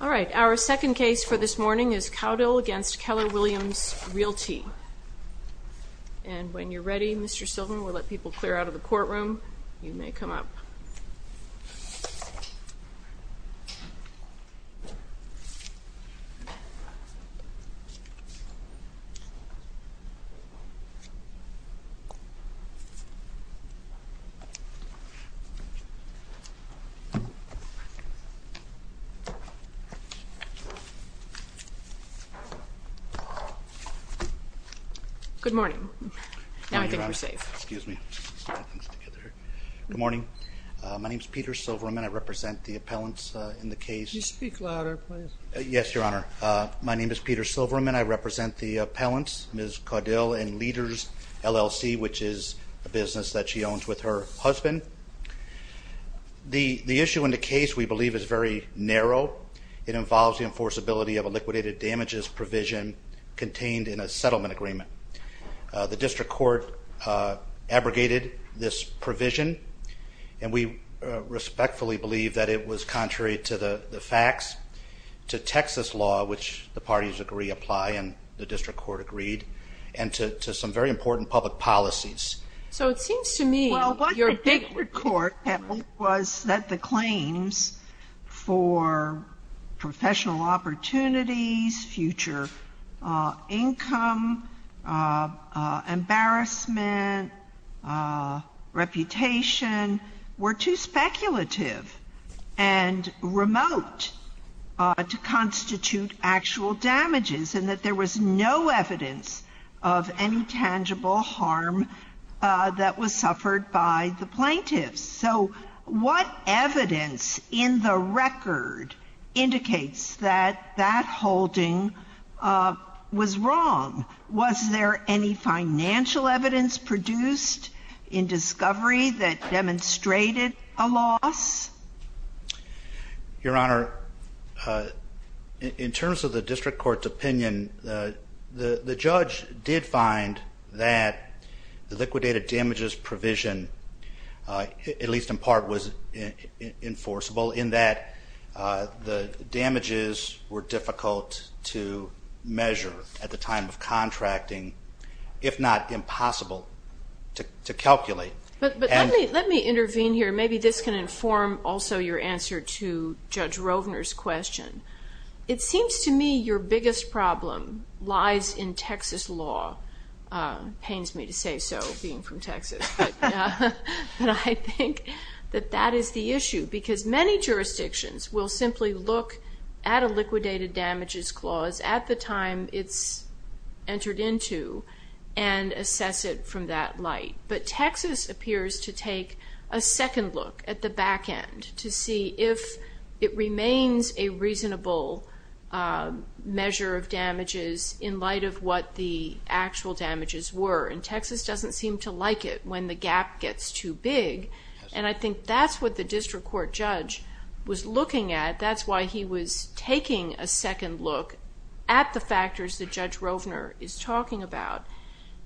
All right, our second case for this morning is Caudill v. Keller Williams Realty. And when you're ready, Mr. Silverman, we'll let people clear out of the courtroom. You may come up. Good morning. Now I think we're safe. Excuse me. Good morning. My name is Peter Silverman. I represent the appellants in the case. You speak louder, please. Yes, Your Honor. My name is Peter Silverman. I represent the appellants, Ms. Caudill and Leaders, LLC, which is a business that she owns with her husband. The issue in the case, we believe, is very narrow. It involves the enforceability of a liquidated damages provision contained in a settlement agreement. The district court abrogated this provision, and we respectfully believe that it was contrary to the facts, to Texas law, which the parties agree apply and the district court agreed, and to some very important public policies. So it seems to me your big report was that the claims for professional opportunities, future income, embarrassment, reputation were too speculative and remote to constitute actual damages and that there was no evidence of any tangible harm that was suffered by the plaintiffs. So what evidence in the record indicates that that holding was wrong? Was there any financial evidence produced in discovery that demonstrated a loss? Your Honor, in terms of the district court's opinion, the judge did find that the liquidated damages provision, at least in part, was enforceable, in that the damages were difficult to measure at the time of contracting, if not impossible to calculate. But let me intervene here. Maybe this can inform also your answer to Judge Rovner's question. It seems to me your biggest problem lies in Texas law. It pains me to say so, being from Texas, but I think that that is the issue, because many jurisdictions will simply look at a liquidated damages clause at the time it's entered into and assess it from that light. But Texas appears to take a second look at the back end to see if it remains a reasonable measure of damages in light of what the actual damages were. And Texas doesn't seem to like it when the gap gets too big. And I think that's what the district court judge was looking at. That's why he was taking a second look at the factors that Judge Rovner is talking about.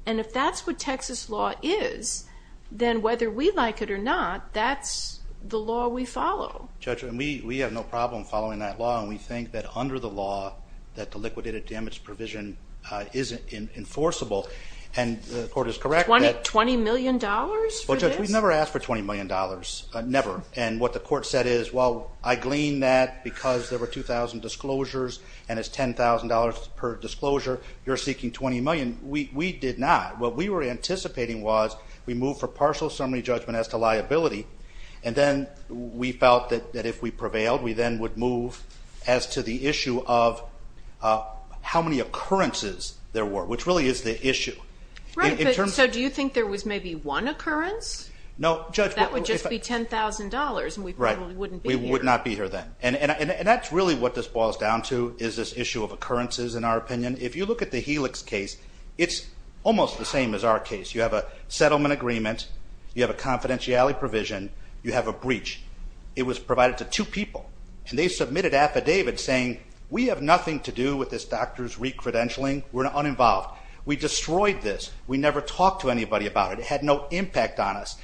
And if that's what Texas law is, then whether we like it or not, that's the law we follow. Judge, we have no problem following that law, and we think that under the law, that the liquidated damages provision is enforceable. And the court is correct that... Twenty million dollars for this? Well, Judge, we've never asked for $20 million, never. And what the court said is, well, I gleaned that because there were 2,000 disclosures, and it's $10,000 per disclosure. You're seeking $20 million. We did not. What we were anticipating was we move for partial summary judgment as to liability, and then we felt that if we prevailed, we then would move as to the issue of how many occurrences there were, which really is the issue. Right, but so do you think there was maybe one occurrence? No, Judge. That would just be $10,000, and we probably wouldn't be here. We would not be here then. And that's really what this boils down to is this issue of occurrences, in our opinion. If you look at the Helix case, it's almost the same as our case. You have a settlement agreement. You have a confidentiality provision. You have a breach. It was provided to two people, and they submitted affidavits saying, we have nothing to do with this doctor's recredentialing. We're uninvolved. We destroyed this. We never talked to anybody about it. It had no impact on us.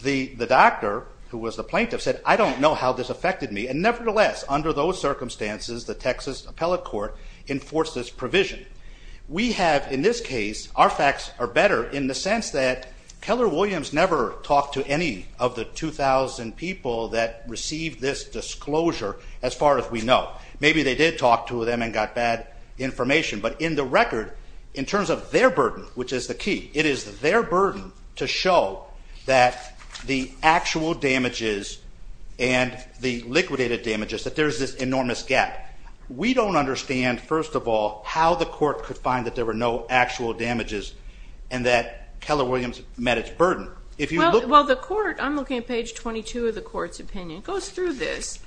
The doctor, who was the plaintiff, said, I don't know how this affected me. And nevertheless, under those circumstances, the Texas Appellate Court enforced this provision. We have, in this case, our facts are better, in the sense that Keller Williams never talked to any of the 2,000 people that received this disclosure, as far as we know. Maybe they did talk to them and got bad information. But in the record, in terms of their burden, which is the key, it is their burden to show that the actual damages and the liquidated damages, that there is this enormous gap. We don't understand, first of all, how the court could find that there were no actual damages and that Keller Williams met its burden. Well, the court, I'm looking at page 22 of the court's opinion, goes through this.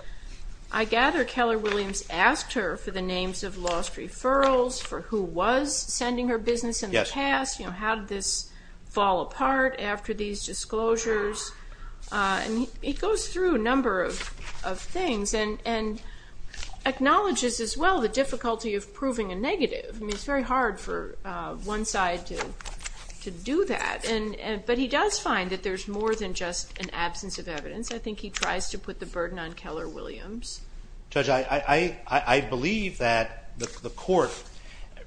I gather Keller Williams asked her for the names of lost referrals, for who was sending her business in the past. How did this fall apart after these disclosures? And he goes through a number of things and acknowledges as well the difficulty of proving a negative. I mean, it's very hard for one side to do that. But he does find that there's more than just an absence of evidence. I think he tries to put the burden on Keller Williams. Judge, I believe that the court,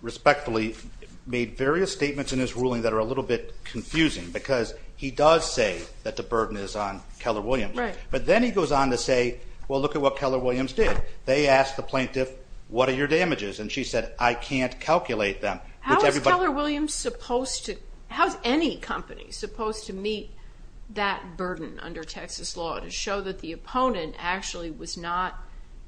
respectfully, made various statements in his ruling that are a little bit confusing because he does say that the burden is on Keller Williams. Right. But then he goes on to say, well, look at what Keller Williams did. They asked the plaintiff, what are your damages? And she said, I can't calculate them. How is Keller Williams supposed to, how is any company supposed to meet that burden under Texas law to show that the opponent actually was not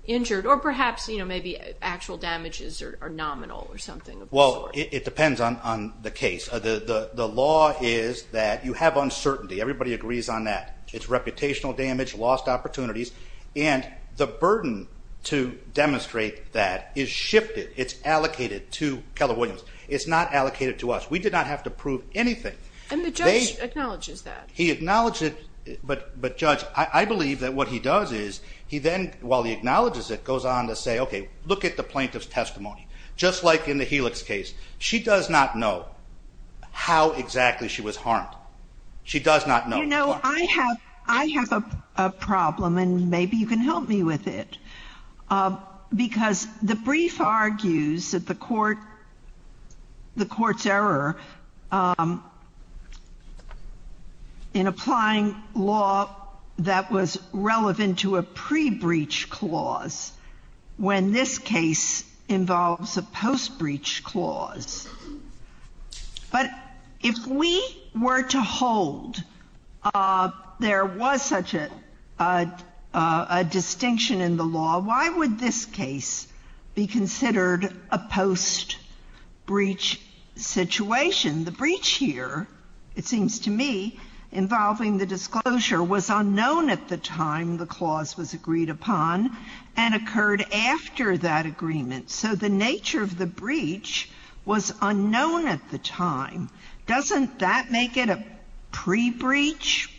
injured? Or perhaps, you know, maybe actual damages are nominal or something of the sort. Well, it depends on the case. The law is that you have uncertainty. Everybody agrees on that. It's reputational damage, lost opportunities. And the burden to demonstrate that is shifted. It's allocated to Keller Williams. It's not allocated to us. We did not have to prove anything. And the judge acknowledges that. But, Judge, I believe that what he does is he then, while he acknowledges it, goes on to say, okay, look at the plaintiff's testimony. Just like in the Helix case. She does not know how exactly she was harmed. She does not know. You know, I have a problem, and maybe you can help me with it. Because the brief argues that the court's error in applying law that was relevant to a pre-breach clause when this case involves a post-breach clause. But if we were to hold there was such a distinction in the law, why would this case be considered a post-breach situation? The breach here, it seems to me, involving the disclosure, was unknown at the time the clause was agreed upon and occurred after that agreement. So the nature of the breach was unknown at the time. Doesn't that make it a pre-breach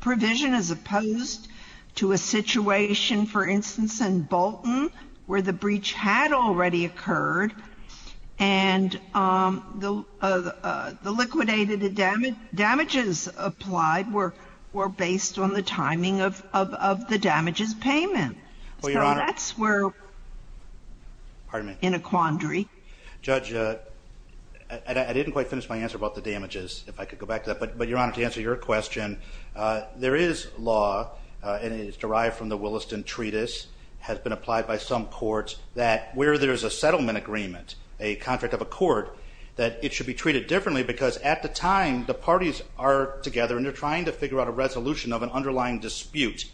provision as opposed to a situation, for instance, in Bolton where the breach had already occurred and the liquidated damages applied were based on the timing of the damages payment? So that's where we're in a quandary. Judge, I didn't quite finish my answer about the damages, if I could go back to that. But, Your Honor, to answer your question, there is law, and it is derived from the Williston Treatise, has been applied by some courts, that where there's a settlement agreement, a contract of a court, that it should be treated differently because at the time the parties are together and they're trying to figure out a resolution of an underlying dispute.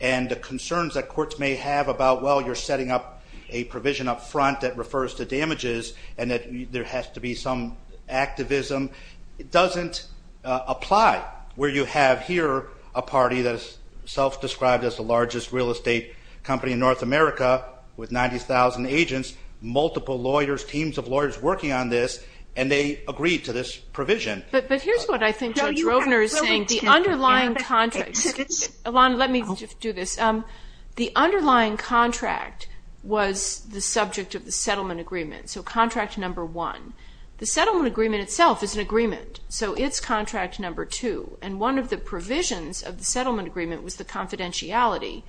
And the concerns that courts may have about, well, you're setting up a provision up front that refers to damages and that there has to be some activism, it doesn't apply. Where you have here a party that is self-described as the largest real estate company in North America with 90,000 agents, multiple lawyers, teams of lawyers working on this, and they agree to this provision. But here's what I think Judge Rovner is saying. The underlying contract, Alana, let me just do this. The underlying contract was the subject of the settlement agreement, so contract number one. The settlement agreement itself is an agreement, so it's contract number two. And one of the provisions of the settlement agreement was the confidentiality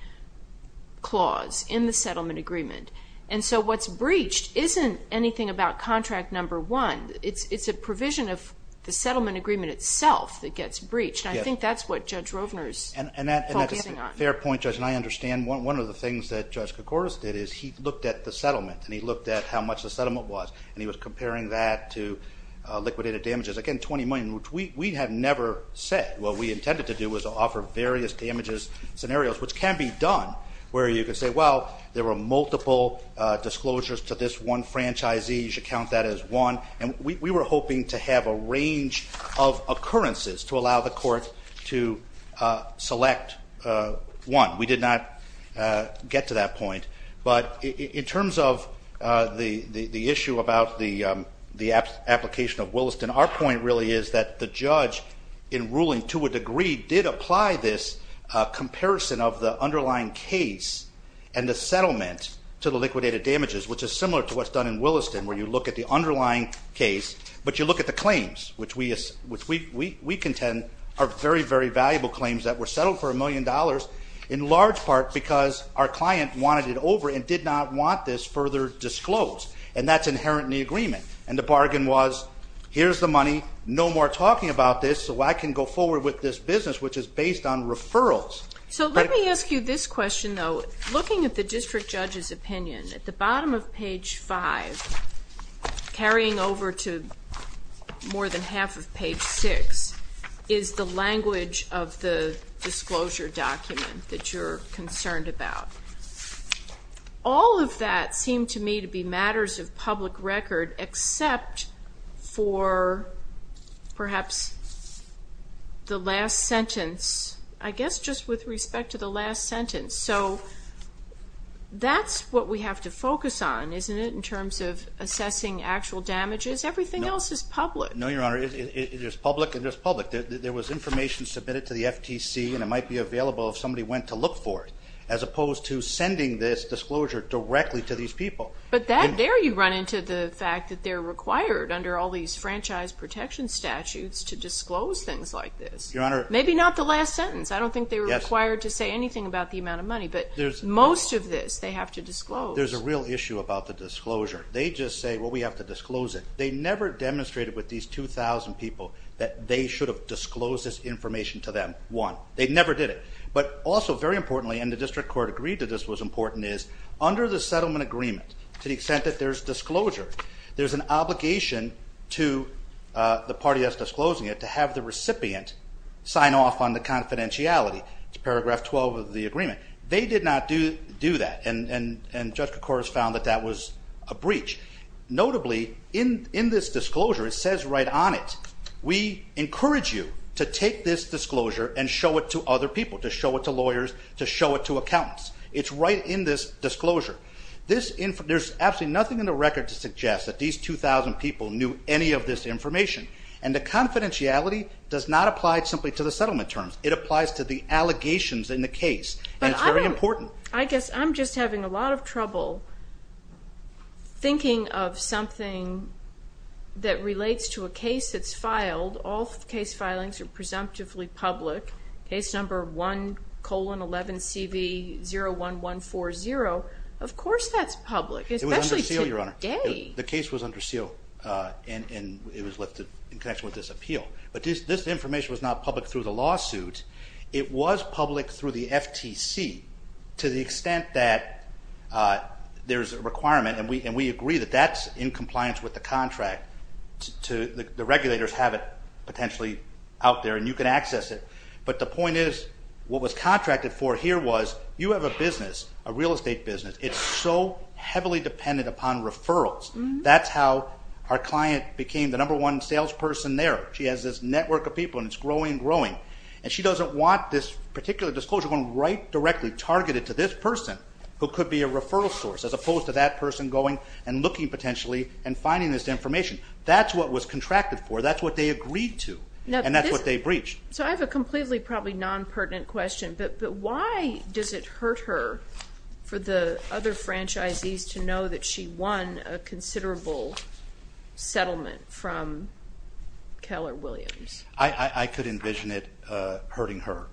clause in the settlement agreement. And so what's breached isn't anything about contract number one. It's a provision of the settlement agreement itself that gets breached, and I think that's what Judge Rovner is focusing on. And that's a fair point, Judge, and I understand. One of the things that Judge Koukouras did is he looked at the settlement and he looked at how much the settlement was, and he was comparing that to liquidated damages. Again, $20 million, which we had never said what we intended to do was to offer various damages scenarios, which can be done, where you can say, well, there were multiple disclosures to this one franchisee. You should count that as one. And we were hoping to have a range of occurrences to allow the court to select one. We did not get to that point. But in terms of the issue about the application of Williston, our point really is that the judge, in ruling to a degree, did apply this comparison of the underlying case and the settlement to the liquidated damages, which is similar to what's done in Williston, where you look at the underlying case, but you look at the claims, which we contend are very, very valuable claims that were settled for $1 million in large part because our client wanted it over and did not want this further disclosed, and that's inherent in the agreement. And the bargain was, here's the money, no more talking about this, so I can go forward with this business, which is based on referrals. So let me ask you this question, though. Looking at the district judge's opinion, at the bottom of page 5, carrying over to more than half of page 6, is the language of the disclosure document that you're concerned about. All of that seemed to me to be matters of public record, except for perhaps the last sentence, I guess just with respect to the last sentence. So that's what we have to focus on, isn't it, in terms of assessing actual damages? No. Everything else is public. No, Your Honor, it is public and just public. There was information submitted to the FTC, and it might be available if somebody went to look for it, as opposed to sending this disclosure directly to these people. But there you run into the fact that they're required, under all these franchise protection statutes, to disclose things like this. Your Honor. Maybe not the last sentence. Yes. I don't think they were required to say anything about the amount of money, but most of this they have to disclose. There's a real issue about the disclosure. They just say, well, we have to disclose it. They never demonstrated with these 2,000 people that they should have disclosed this information to them. One, they never did it. But also, very importantly, and the district court agreed that this was important, is under the settlement agreement, to the extent that there's disclosure, there's an obligation to the party that's disclosing it to have the recipient sign off on the confidentiality. It's paragraph 12 of the agreement. They did not do that, and Judge Kocouras found that that was a breach. Notably, in this disclosure, it says right on it, we encourage you to take this disclosure and show it to other people, to show it to lawyers, to show it to accountants. It's right in this disclosure. There's absolutely nothing in the record to suggest that these 2,000 people knew any of this information. And the confidentiality does not apply simply to the settlement terms. It applies to the allegations in the case, and it's very important. But I guess I'm just having a lot of trouble thinking of something that relates to a case that's filed. All case filings are presumptively public. Case number 1-11-CV-01140, of course that's public, especially today. It was under seal, Your Honor. Today? The case was under seal, and it was lifted in connection with this appeal. But this information was not public through the lawsuit. It was public through the FTC to the extent that there's a requirement, and we agree that that's in compliance with the contract. The regulators have it potentially out there, and you can access it. But the point is what was contracted for here was you have a business, a real estate business. It's so heavily dependent upon referrals. That's how our client became the number one salesperson there. She has this network of people, and it's growing and growing. And she doesn't want this particular disclosure going right directly targeted to this person who could be a referral source as opposed to that person going and looking potentially and finding this information. That's what was contracted for. That's what they agreed to, and that's what they breached. So I have a completely probably non-pertinent question, but why does it hurt her for the other franchisees to know that she won a considerable settlement from Keller Williams? I could envision it hurting her.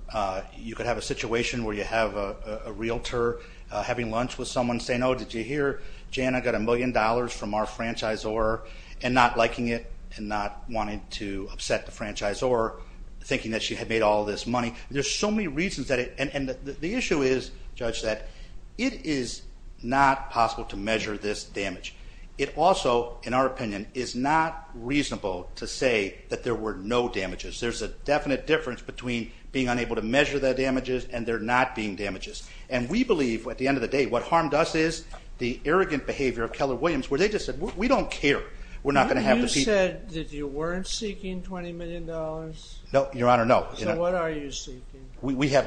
You could have a situation where you have a realtor having lunch with someone saying, oh, did you hear, Jan, I got a million dollars from our franchisor, and not liking it and not wanting to upset the franchisor, thinking that she had made all this money. There's so many reasons. And the issue is, Judge, that it is not possible to measure this damage. It also, in our opinion, is not reasonable to say that there were no damages. There's a definite difference between being unable to measure the damages and there not being damages. And we believe at the end of the day what harmed us is the arrogant behavior of Keller Williams where they just said, we don't care. You said that you weren't seeking $20 million. No, Your Honor, no. So what are you seeking? We're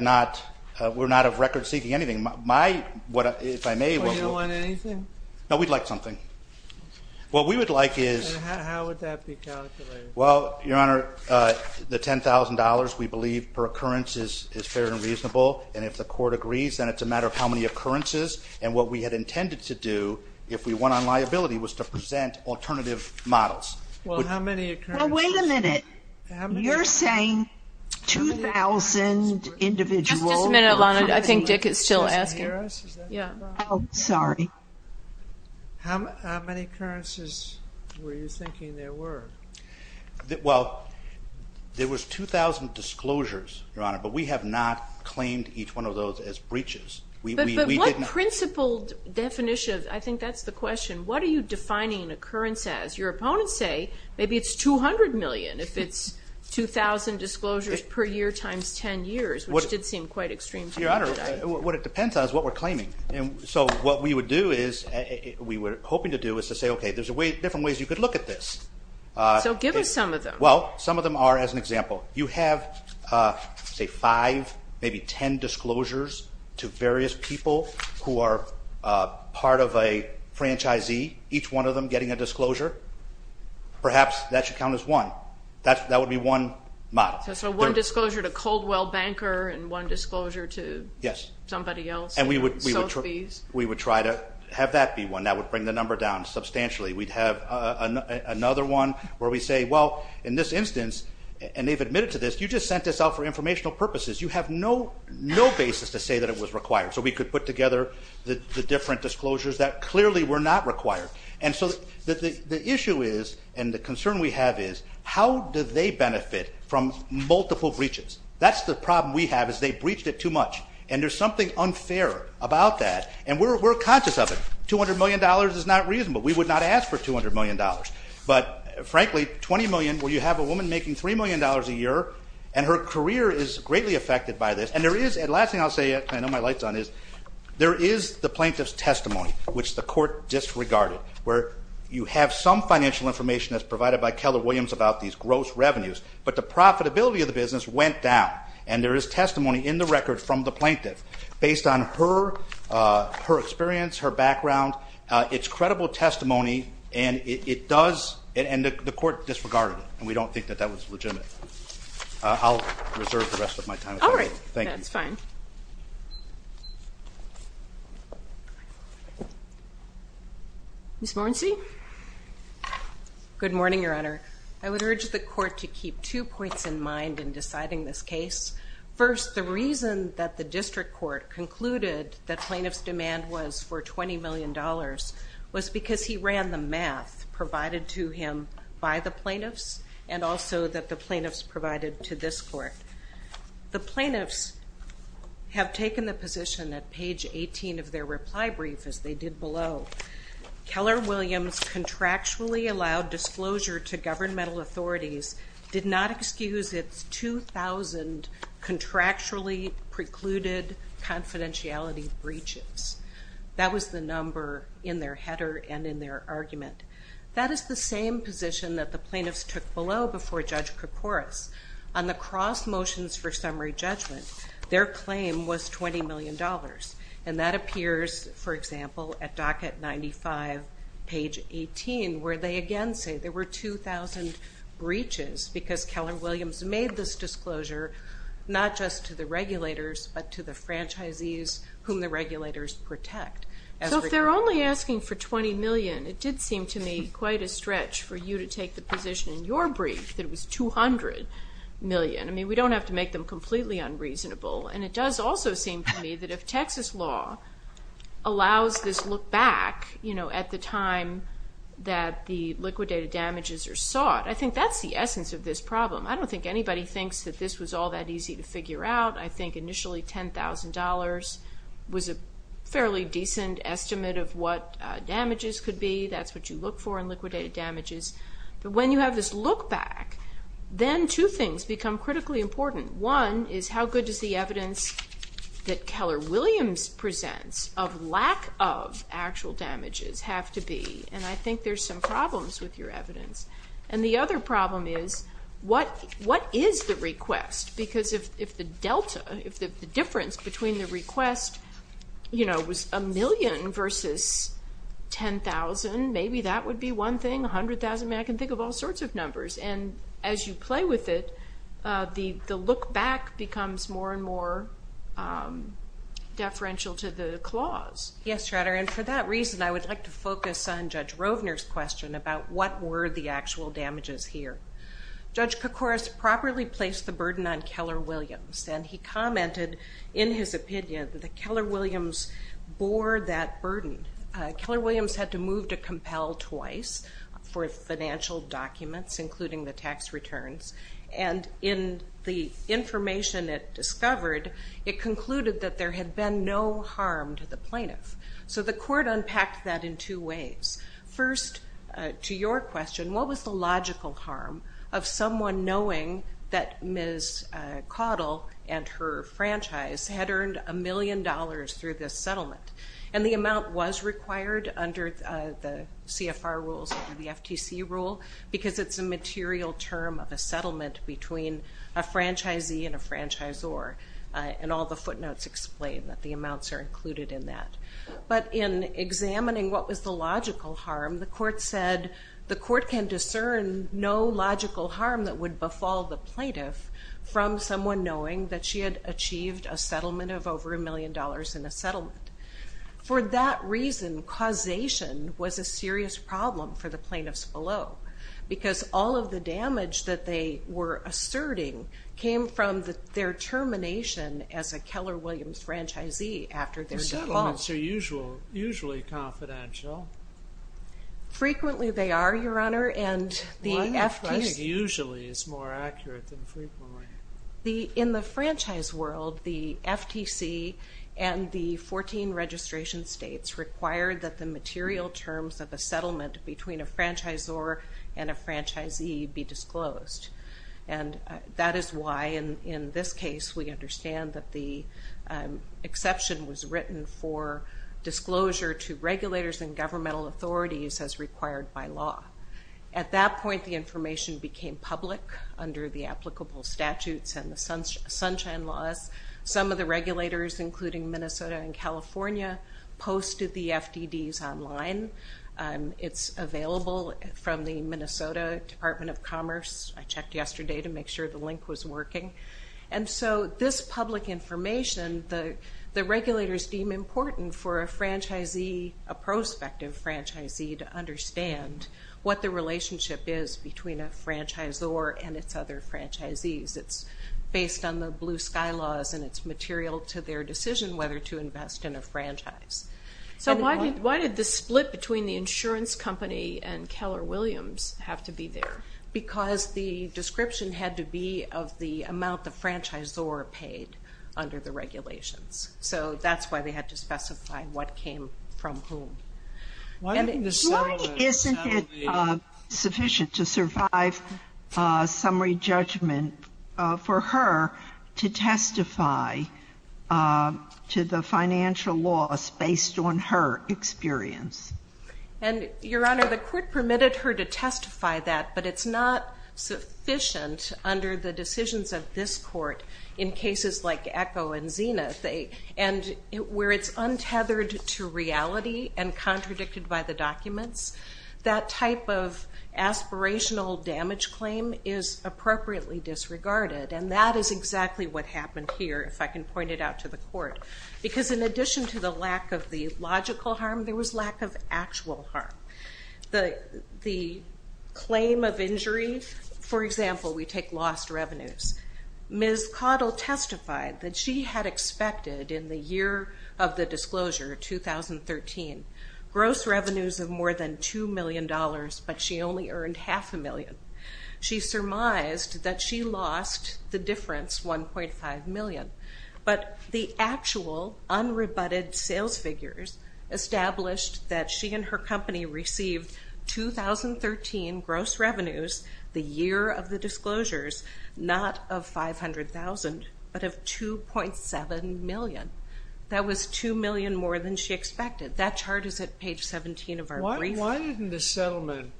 not of record seeking anything. You don't want anything? No, we'd like something. How would that be calculated? Well, Your Honor, the $10,000 we believe per occurrence is fair and reasonable. And if the court agrees, then it's a matter of how many occurrences and what we had intended to do if we went on liability was to present alternative models. Well, how many occurrences? Well, wait a minute. You're saying 2,000 individuals? Just a minute, Your Honor. I think Dick is still asking. Oh, sorry. How many occurrences were you thinking there were? Well, there was 2,000 disclosures, Your Honor, but we have not claimed each one of those as breaches. But what principled definition of, I think that's the question, what are you defining an occurrence as? Your opponents say maybe it's 200 million if it's 2,000 disclosures per year times 10 years, which did seem quite extreme to me today. Your Honor, what it depends on is what we're claiming. So what we would do is, we were hoping to do, is to say, okay, there's different ways you could look at this. So give us some of them. Well, some of them are, as an example, you have, say, five, maybe 10 disclosures to various people who are part of a franchisee, each one of them getting a disclosure. Perhaps that should count as one. That would be one model. So one disclosure to Coldwell Banker and one disclosure to somebody else. And we would try to have that be one. That would bring the number down substantially. We'd have another one where we say, well, in this instance, and they've admitted to this, you just sent this out for informational purposes. You have no basis to say that it was required. So we could put together the different disclosures that clearly were not required. And so the issue is, and the concern we have is, how do they benefit from multiple breaches? That's the problem we have is they breached it too much. And there's something unfair about that. And we're conscious of it. $200 million is not reasonable. We would not ask for $200 million. But, frankly, $20 million where you have a woman making $3 million a year, and her career is greatly affected by this. And the last thing I'll say, I know my light's on, is there is the plaintiff's testimony, which the court disregarded, where you have some financial information that's provided by Keller Williams about these gross revenues, but the profitability of the business went down. And there is testimony in the record from the plaintiff based on her experience, her background. It's credible testimony, and it does, and the court disregarded it. And we don't think that that was legitimate. I'll reserve the rest of my time. All right. Thank you. That's fine. Ms. Morrency? Good morning, Your Honor. I would urge the court to keep two points in mind in deciding this case. First, the reason that the district court concluded that plaintiff's demand was for $20 million was because he ran the math provided to him by the plaintiffs, and also that the plaintiffs provided to this court. The plaintiffs have taken the position at page 18 of their reply brief, as they did below, Keller Williams contractually allowed disclosure to governmental authorities, did not excuse its 2,000 contractually precluded confidentiality breaches. That was the number in their header and in their argument. That is the same position that the plaintiffs took below before Judge Koukouras. On the cross motions for summary judgment, their claim was $20 million, and that appears, for example, at docket 95, page 18, where they again say there were 2,000 breaches because Keller Williams made this disclosure not just to the regulators but to the franchisees whom the regulators protect. So if they're only asking for $20 million, it did seem to me quite a stretch for you to take the position in your brief that it was $200 million. I mean, we don't have to make them completely unreasonable, and it does also seem to me that if Texas law allows this look back, you know, at the time that the liquidated damages are sought, I think that's the essence of this problem. I don't think anybody thinks that this was all that easy to figure out. I think initially $10,000 was a fairly decent estimate of what damages could be. That's what you look for in liquidated damages. But when you have this look back, then two things become critically important. One is how good does the evidence that Keller Williams presents of lack of actual damages have to be? And I think there's some problems with your evidence. And the other problem is what is the request? Because if the delta, if the difference between the request, you know, was $1 million versus $10,000, maybe that would be one thing, $100,000. And as you play with it, the look back becomes more and more deferential to the clause. Yes, Your Honor. And for that reason, I would like to focus on Judge Rovner's question about what were the actual damages here. Judge Koukouras properly placed the burden on Keller Williams, and he commented in his opinion that Keller Williams bore that burden. Keller Williams had to move to compel twice for financial documents, including the tax returns. And in the information it discovered, it concluded that there had been no harm to the plaintiff. So the court unpacked that in two ways. First, to your question, what was the logical harm of someone knowing that Ms. Caudill and her franchise had earned $1 million through this settlement? And the amount was required under the CFR rules and the FTC rule, because it's a material term of a settlement between a franchisee and a franchisor, and all the footnotes explain that the amounts are included in that. But in examining what was the logical harm, the court said the court can discern no logical harm that would befall the plaintiff from someone knowing that she had achieved a settlement of over $1 million in a settlement. For that reason, causation was a serious problem for the plaintiffs below, because all of the damage that they were asserting came from their termination as a Keller Williams franchisee after their default. Settlements are usually confidential. Frequently they are, Your Honor. Why do you think usually is more accurate than frequently? In the franchise world, the FTC and the 14 registration states required that the material terms of a settlement between a franchisor and a franchisee be disclosed. And that is why, in this case, we understand that the exception was written for disclosure to regulators and governmental authorities as required by law. At that point, the information became public under the applicable statutes and the Sunshine Laws. Some of the regulators, including Minnesota and California, posted the FDDs online. It's available from the Minnesota Department of Commerce. I checked yesterday to make sure the link was working. And so this public information, the regulators deem important for a franchisee, a prospective franchisee, to understand what the relationship is between a franchisor and its other franchisees. It's based on the Blue Sky Laws, and it's material to their decision whether to invest in a franchise. So why did the split between the insurance company and Keller Williams have to be there? Because the description had to be of the amount the franchisor paid under the regulations. So that's why they had to specify what came from whom. Why isn't it sufficient to survive summary judgment for her to testify to the financial laws based on her experience? And, Your Honor, the court permitted her to testify that, but it's not sufficient under the decisions of this court in cases like Echo and Zenith. And where it's untethered to reality and contradicted by the documents, that type of aspirational damage claim is appropriately disregarded, and that is exactly what happened here, if I can point it out to the court. Because in addition to the lack of the logical harm, there was lack of actual harm. The claim of injury, for example, we take lost revenues. Ms. Caudill testified that she had expected in the year of the disclosure, 2013, gross revenues of more than $2 million, but she only earned half a million. She surmised that she lost the difference, $1.5 million. But the actual unrebutted sales figures established that she and her company received 2013 gross revenues, the year of the disclosures, not of $500,000, but of $2.7 million. That was $2 million more than she expected. That chart is at page 17 of our brief. Why didn't the settlement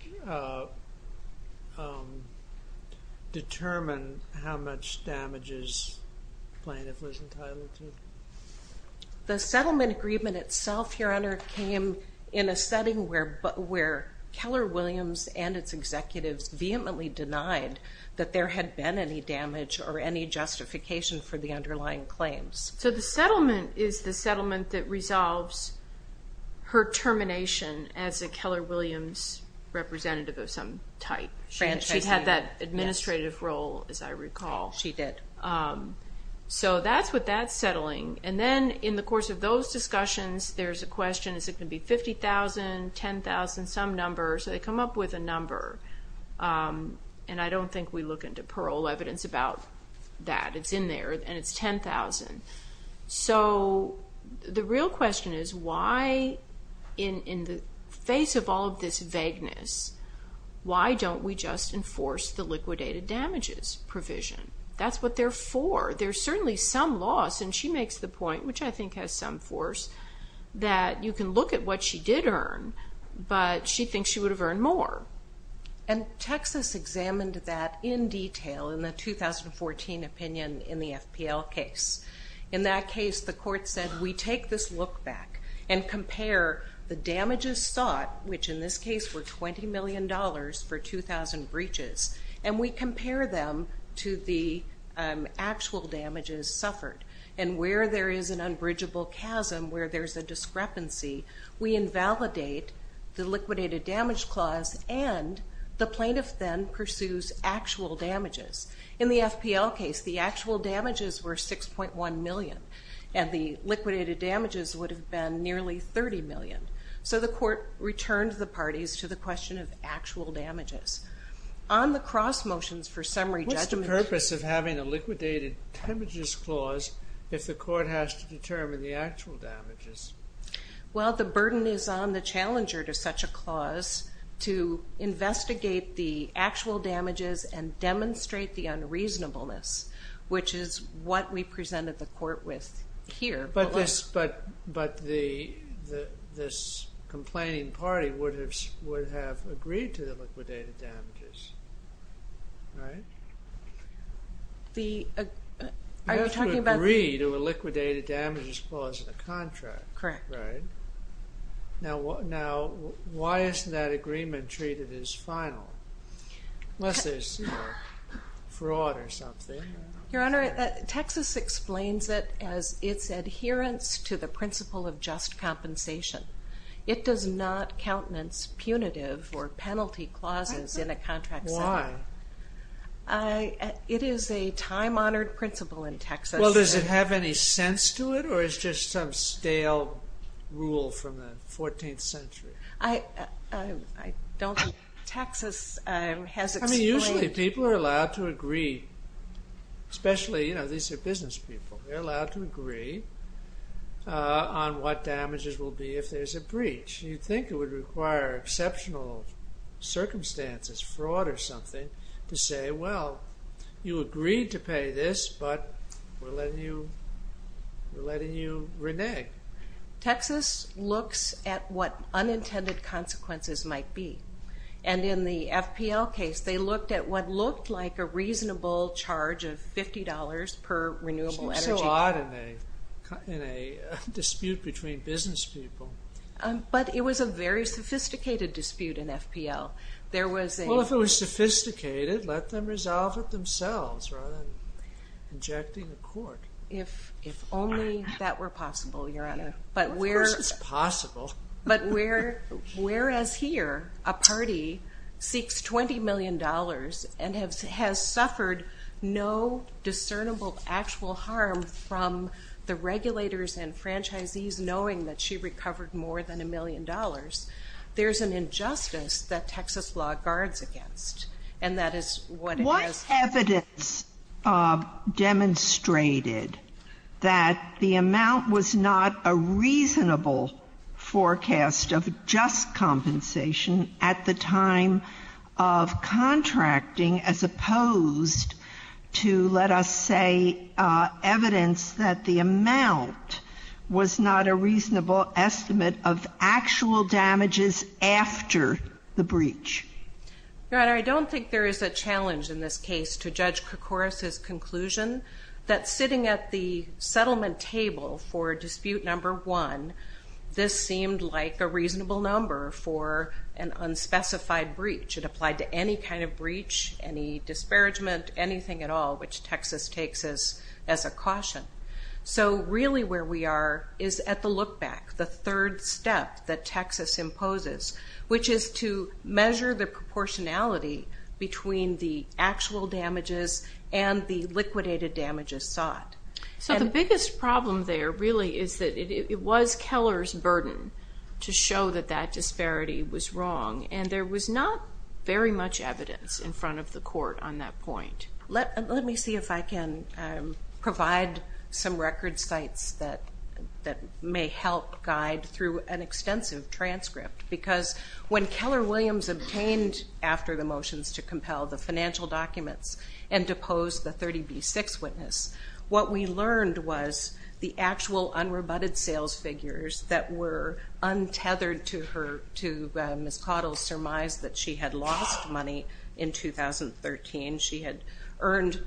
determine how much damage his plaintiff was entitled to? The settlement agreement itself, Your Honor, came in a setting where Keller Williams and its executives vehemently denied that there had been any damage or any justification for the underlying claims. The settlement is the settlement that resolves her termination as a Keller Williams representative of some type. She had that administrative role, as I recall. She did. That's what that's settling. Then in the course of those discussions, there's a question, is it going to be $50,000, $10,000, some number? They come up with a number. I don't think we look into parole evidence about that. It's in there, and it's $10,000. So the real question is why, in the face of all of this vagueness, why don't we just enforce the liquidated damages provision? That's what they're for. There's certainly some loss, and she makes the point, which I think has some force, that you can look at what she did earn, but she thinks she would have earned more. Texas examined that in detail in the 2014 opinion in the FPL case. In that case, the court said, we take this look back and compare the damages sought, which in this case were $20 million for 2,000 breaches, and we compare them to the actual damages suffered. Where there is an unbridgeable chasm, where there's a discrepancy, we invalidate the liquidated damage clause, and the plaintiff then pursues actual damages. In the FPL case, the actual damages were $6.1 million, and the liquidated damages would have been nearly $30 million. So the court returned the parties to the question of actual damages. What's the purpose of having a liquidated damages clause if the court has to determine the actual damages? Well, the burden is on the challenger to such a clause to investigate the actual damages and demonstrate the unreasonableness, which is what we presented the court with here. But this complaining party would have agreed to the liquidated damages, right? You have to agree to a liquidated damages clause in a contract, right? Correct. Now, why isn't that agreement treated as final? Unless there's fraud or something. Your Honor, Texas explains it as its adherence to the principle of just compensation. It does not countenance punitive or penalty clauses in a contract setting. Why? It is a time-honored principle in Texas. Well, does it have any sense to it, or it's just some stale rule from the 14th century? I don't think Texas has explained it. I mean, usually people are allowed to agree, especially, you know, these are business people. They're allowed to agree on what damages will be if there's a breach. You'd think it would require exceptional circumstances, fraud or something, to say, well, you agreed to pay this, but we're letting you renege. Texas looks at what unintended consequences might be. And in the FPL case, they looked at what looked like a reasonable charge of $50 per renewable energy bill. It was caught in a dispute between business people. But it was a very sophisticated dispute in FPL. Well, if it was sophisticated, let them resolve it themselves rather than injecting the court. If only that were possible, Your Honor. Of course it's possible. But whereas here a party seeks $20 million and has suffered no discernible actual harm from the regulators and franchisees knowing that she recovered more than $1 million, there's an injustice that Texas law guards against. And that is what it does. What evidence demonstrated that the amount was not a reasonable forecast of just compensation at the time of contracting as opposed to, let us say, evidence that the amount was not a reasonable estimate of actual damages after the breach? Your Honor, I don't think there is a challenge in this case to Judge Koukouris' conclusion that sitting at the settlement table for dispute number one, this seemed like a reasonable number for an unspecified breach. It applied to any kind of breach, any disparagement, anything at all, which Texas takes as a caution. So really where we are is at the look back, the third step that Texas imposes, which is to measure the proportionality between the actual damages and the liquidated damages sought. So the biggest problem there really is that it was Keller's burden to show that that disparity was wrong, and there was not very much evidence in front of the court on that point. Let me see if I can provide some record sites that may help guide through an extensive transcript. Because when Keller Williams obtained, after the motions to compel, the financial documents and deposed the 30B6 witness, what we learned was the actual unrebutted sales figures that were untethered to Ms. Cottle's surmise that she had lost money in 2013. She had earned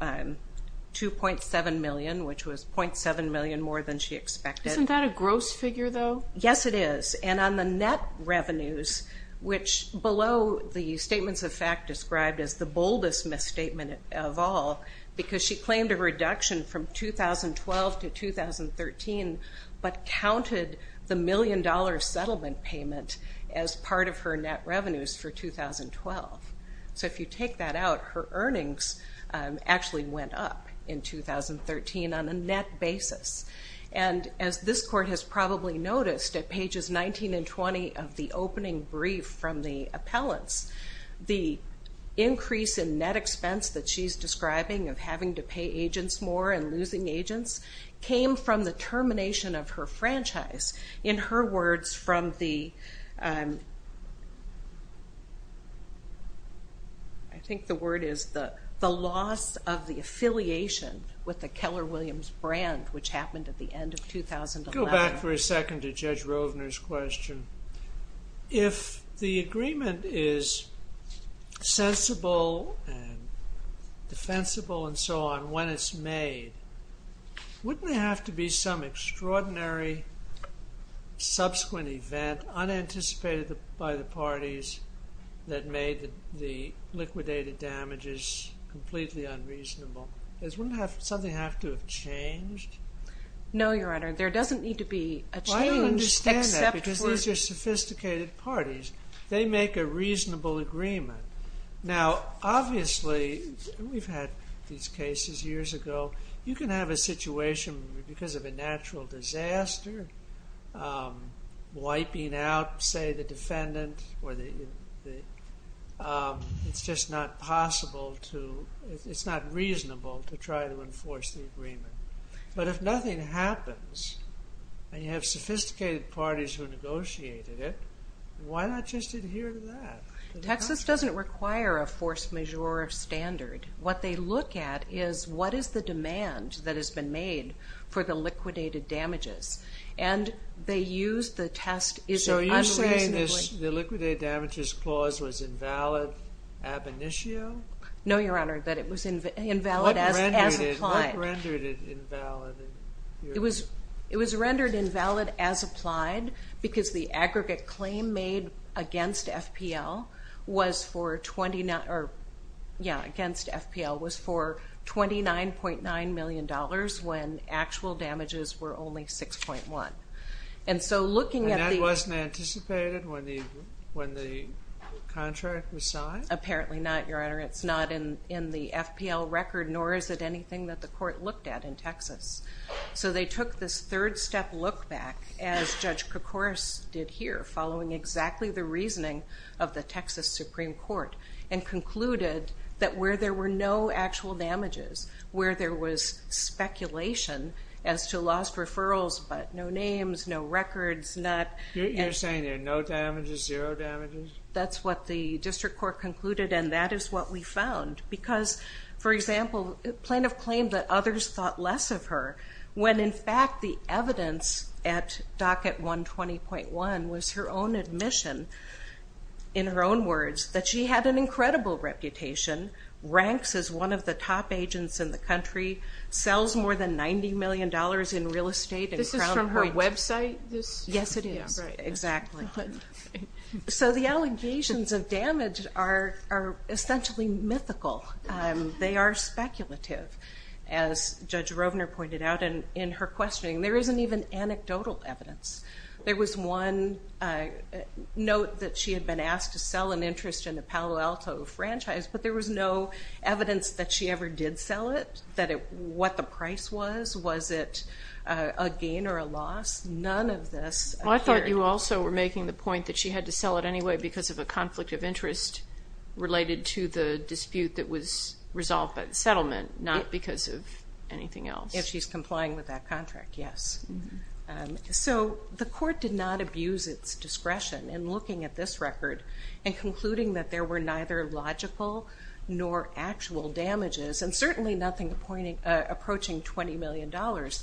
$2.7 million, which was $0.7 million more than she expected. Isn't that a gross figure, though? Yes, it is. And on the net revenues, which below the statements of fact described as the boldest misstatement of all, because she claimed a reduction from 2012 to 2013, but counted the million-dollar settlement payment as part of her net revenues for 2012. So if you take that out, her earnings actually went up in 2013 on a net basis. And as this court has probably noticed at pages 19 and 20 of the opening brief from the appellants, the increase in net expense that she's describing of having to pay agents more and losing agents came from the termination of her franchise. In her words from the, I think the word is the loss of the affiliation with the Keller Williams brand, which happened at the end of 2011. Go back for a second to Judge Rovner's question. If the agreement is sensible and defensible and so on when it's made, wouldn't there have to be some extraordinary subsequent event unanticipated by the parties that made the liquidated damages completely unreasonable? Wouldn't something have to have changed? No, Your Honor. There doesn't need to be a change except for if you have sophisticated parties, they make a reasonable agreement. Now, obviously, we've had these cases years ago. You can have a situation because of a natural disaster, wiping out, say, the defendant or the, it's just not possible to, it's not reasonable to try to enforce the agreement. But if nothing happens and you have sophisticated parties who negotiated it, why not just adhere to that? Texas doesn't require a force majeure standard. What they look at is what is the demand that has been made for the liquidated damages. And they use the test, is it unreasonably? So you're saying the liquidated damages clause was invalid ab initio? No, Your Honor, that it was invalid as applied. What rendered it invalid? It was rendered invalid as applied because the aggregate claim made against FPL was for $29.9 million when actual damages were only 6.1. And that wasn't anticipated when the contract was signed? Apparently not, Your Honor. It's not in the FPL record, nor is it anything that the court looked at in Texas. So they took this third-step look back, as Judge Koukouros did here, following exactly the reasoning of the Texas Supreme Court, and concluded that where there were no actual damages, where there was speculation as to lost referrals but no names, no records, not... You're saying there are no damages, zero damages? That's what the district court concluded, and that is what we found. Because, for example, plaintiff claimed that others thought less of her when, in fact, the evidence at Docket 120.1 was her own admission, in her own words, that she had an incredible reputation, ranks as one of the top agents in the country, sells more than $90 million in real estate... This is from her website? Yes, it is, exactly. So the allegations of damage are essentially mythical. They are speculative, as Judge Rovner pointed out in her questioning. There isn't even anecdotal evidence. There was one note that she had been asked to sell an interest in the Palo Alto franchise, but there was no evidence that she ever did sell it, what the price was. Was it a gain or a loss? None of this appeared. Well, I thought you also were making the point that she had to sell it anyway because of a conflict of interest related to the dispute that was resolved by the settlement, not because of anything else. If she's complying with that contract, yes. So the court did not abuse its discretion in looking at this record and concluding that there were neither logical nor actual damages, and certainly nothing approaching $20 million. What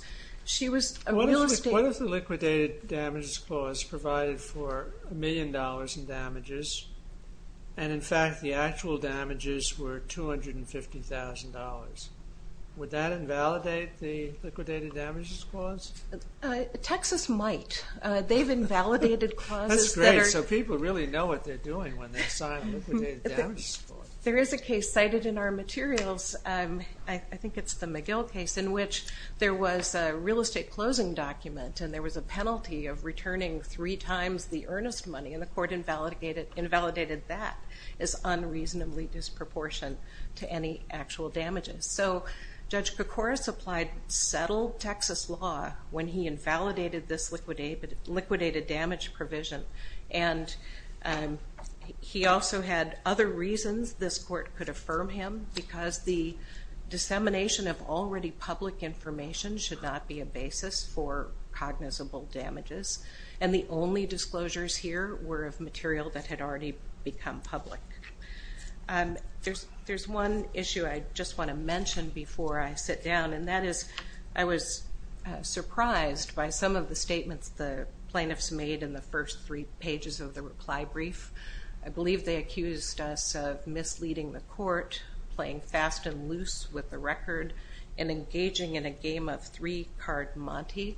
if the liquidated damages clause provided for $1 million in damages and, in fact, the actual damages were $250,000? Would that invalidate the liquidated damages clause? Texas might. They've invalidated clauses that are... That's great, so people really know what they're doing when they sign a liquidated damages clause. There is a case cited in our materials. I think it's the McGill case in which there was a real estate closing document and there was a penalty of returning three times the earnest money, and the court invalidated that as unreasonably disproportionate to any actual damages. So Judge Kokoris applied settled Texas law when he invalidated this liquidated damage provision, and he also had other reasons this court could affirm him, because the dissemination of already public information should not be a basis for cognizable damages, and the only disclosures here were of material that had already become public. There's one issue I just want to mention before I sit down, and that is I was surprised by some of the statements the plaintiffs made in the first three pages of the reply brief. I believe they accused us of misleading the court, playing fast and loose with the record, and engaging in a game of three-card Monty.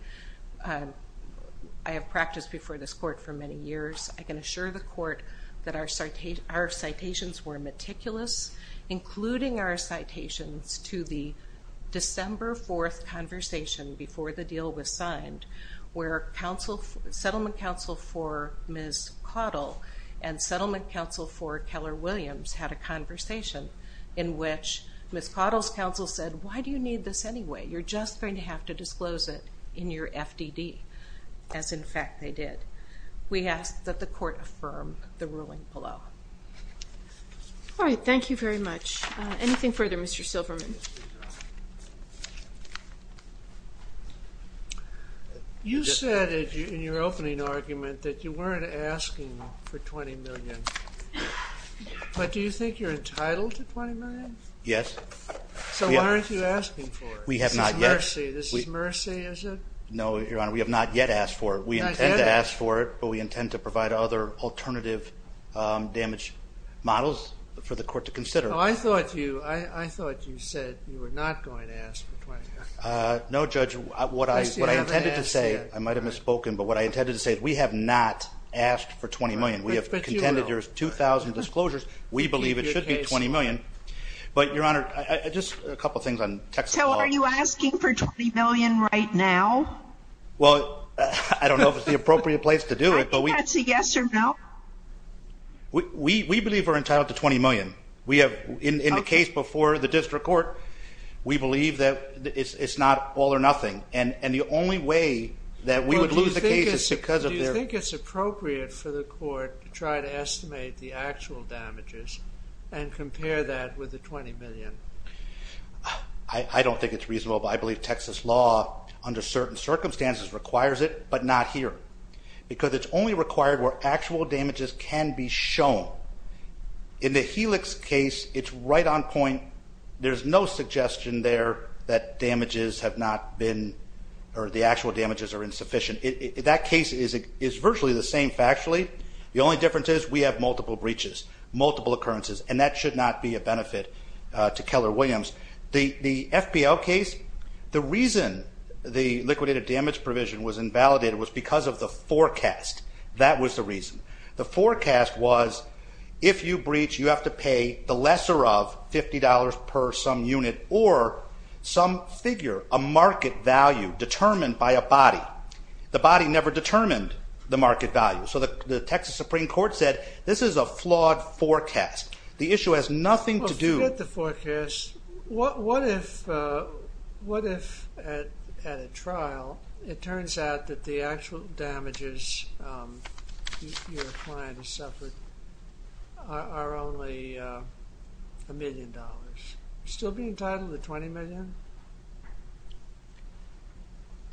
I have practiced before this court for many years. I can assure the court that our citations were meticulous, including our citations to the December 4th conversation before the deal was signed where Settlement Counsel for Ms. Caudill and Settlement Counsel for Keller Williams had a conversation in which Ms. Caudill's counsel said, why do you need this anyway? You're just going to have to disclose it in your FDD, as in fact they did. We ask that the court affirm the ruling below. All right. Thank you very much. Anything further, Mr. Silverman? You said in your opening argument that you weren't asking for $20 million, but do you think you're entitled to $20 million? Yes. So why aren't you asking for it? We have not yet. This is mercy, is it? No, Your Honor. We have not yet asked for it. Not yet? But we intend to provide other alternative damage models for the court to consider. I thought you said you were not going to ask for $20 million. No, Judge. What I intended to say, I might have misspoken, but what I intended to say is we have not asked for $20 million. We have contended there's 2,000 disclosures. We believe it should be $20 million. But, Your Honor, just a couple of things on text calls. So are you asking for $20 million right now? Well, I don't know if it's the appropriate place to do it. That's a yes or no. We believe we're entitled to $20 million. In the case before the district court, we believe that it's not all or nothing. And the only way that we would lose the case is because of their – Do you think it's appropriate for the court to try to estimate the actual damages and compare that with the $20 million? I don't think it's reasonable, but I believe Texas law under certain circumstances requires it but not here because it's only required where actual damages can be shown. In the Helix case, it's right on point. There's no suggestion there that damages have not been or the actual damages are insufficient. That case is virtually the same factually. The only difference is we have multiple breaches, multiple occurrences, and that should not be a benefit to Keller Williams. The FPL case, the reason the liquidated damage provision was invalidated was because of the forecast. That was the reason. The forecast was if you breach, you have to pay the lesser of $50 per some unit or some figure, a market value determined by a body. The body never determined the market value. So the Texas Supreme Court said this is a flawed forecast. The issue has nothing to do – What if at a trial it turns out that the actual damages your client has suffered are only $1 million? Are you still being entitled to $20 million?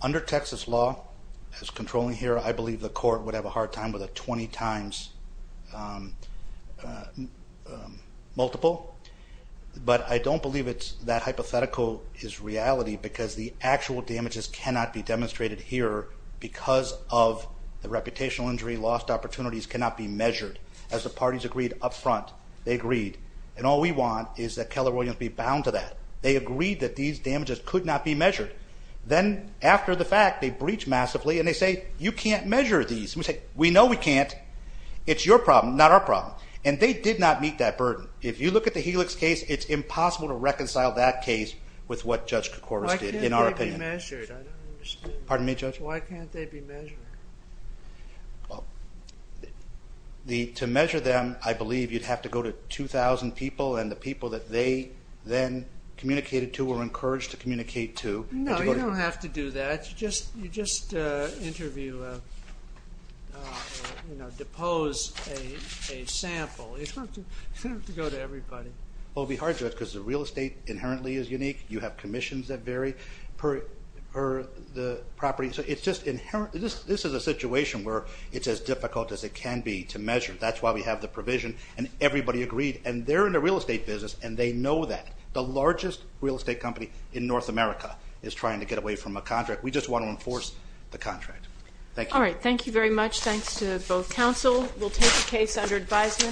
Under Texas law, as controlling here, I believe the court would have a hard time with a 20 times multiple, but I don't believe that hypothetical is reality because the actual damages cannot be demonstrated here because of the reputational injury. Lost opportunities cannot be measured. As the parties agreed up front, they agreed, and all we want is that Keller Williams be bound to that. They agreed that these damages could not be measured. Then after the fact, they breach massively, and they say, you can't measure these. We say, we know we can't. It's your problem, not our problem. And they did not meet that burden. If you look at the Helix case, it's impossible to reconcile that case with what Judge Koukouros did, Why can't they be measured? I don't understand. Pardon me, Judge? Why can't they be measured? To measure them, I believe you'd have to go to 2,000 people, and the people that they then communicated to or were encouraged to communicate to. No, you don't have to do that. You just interview, you know, depose a sample. You don't have to go to everybody. Well, it would be hard, Judge, because the real estate inherently is unique. You have commissions that vary per the property. So it's just inherent. This is a situation where it's as difficult as it can be to measure. That's why we have the provision, and everybody agreed. And they're in the real estate business, and they know that. The largest real estate company in North America is trying to get away from a contract. We just want to enforce the contract. Thank you. All right, thank you very much. Thanks to both counsel. We'll take the case under advisement.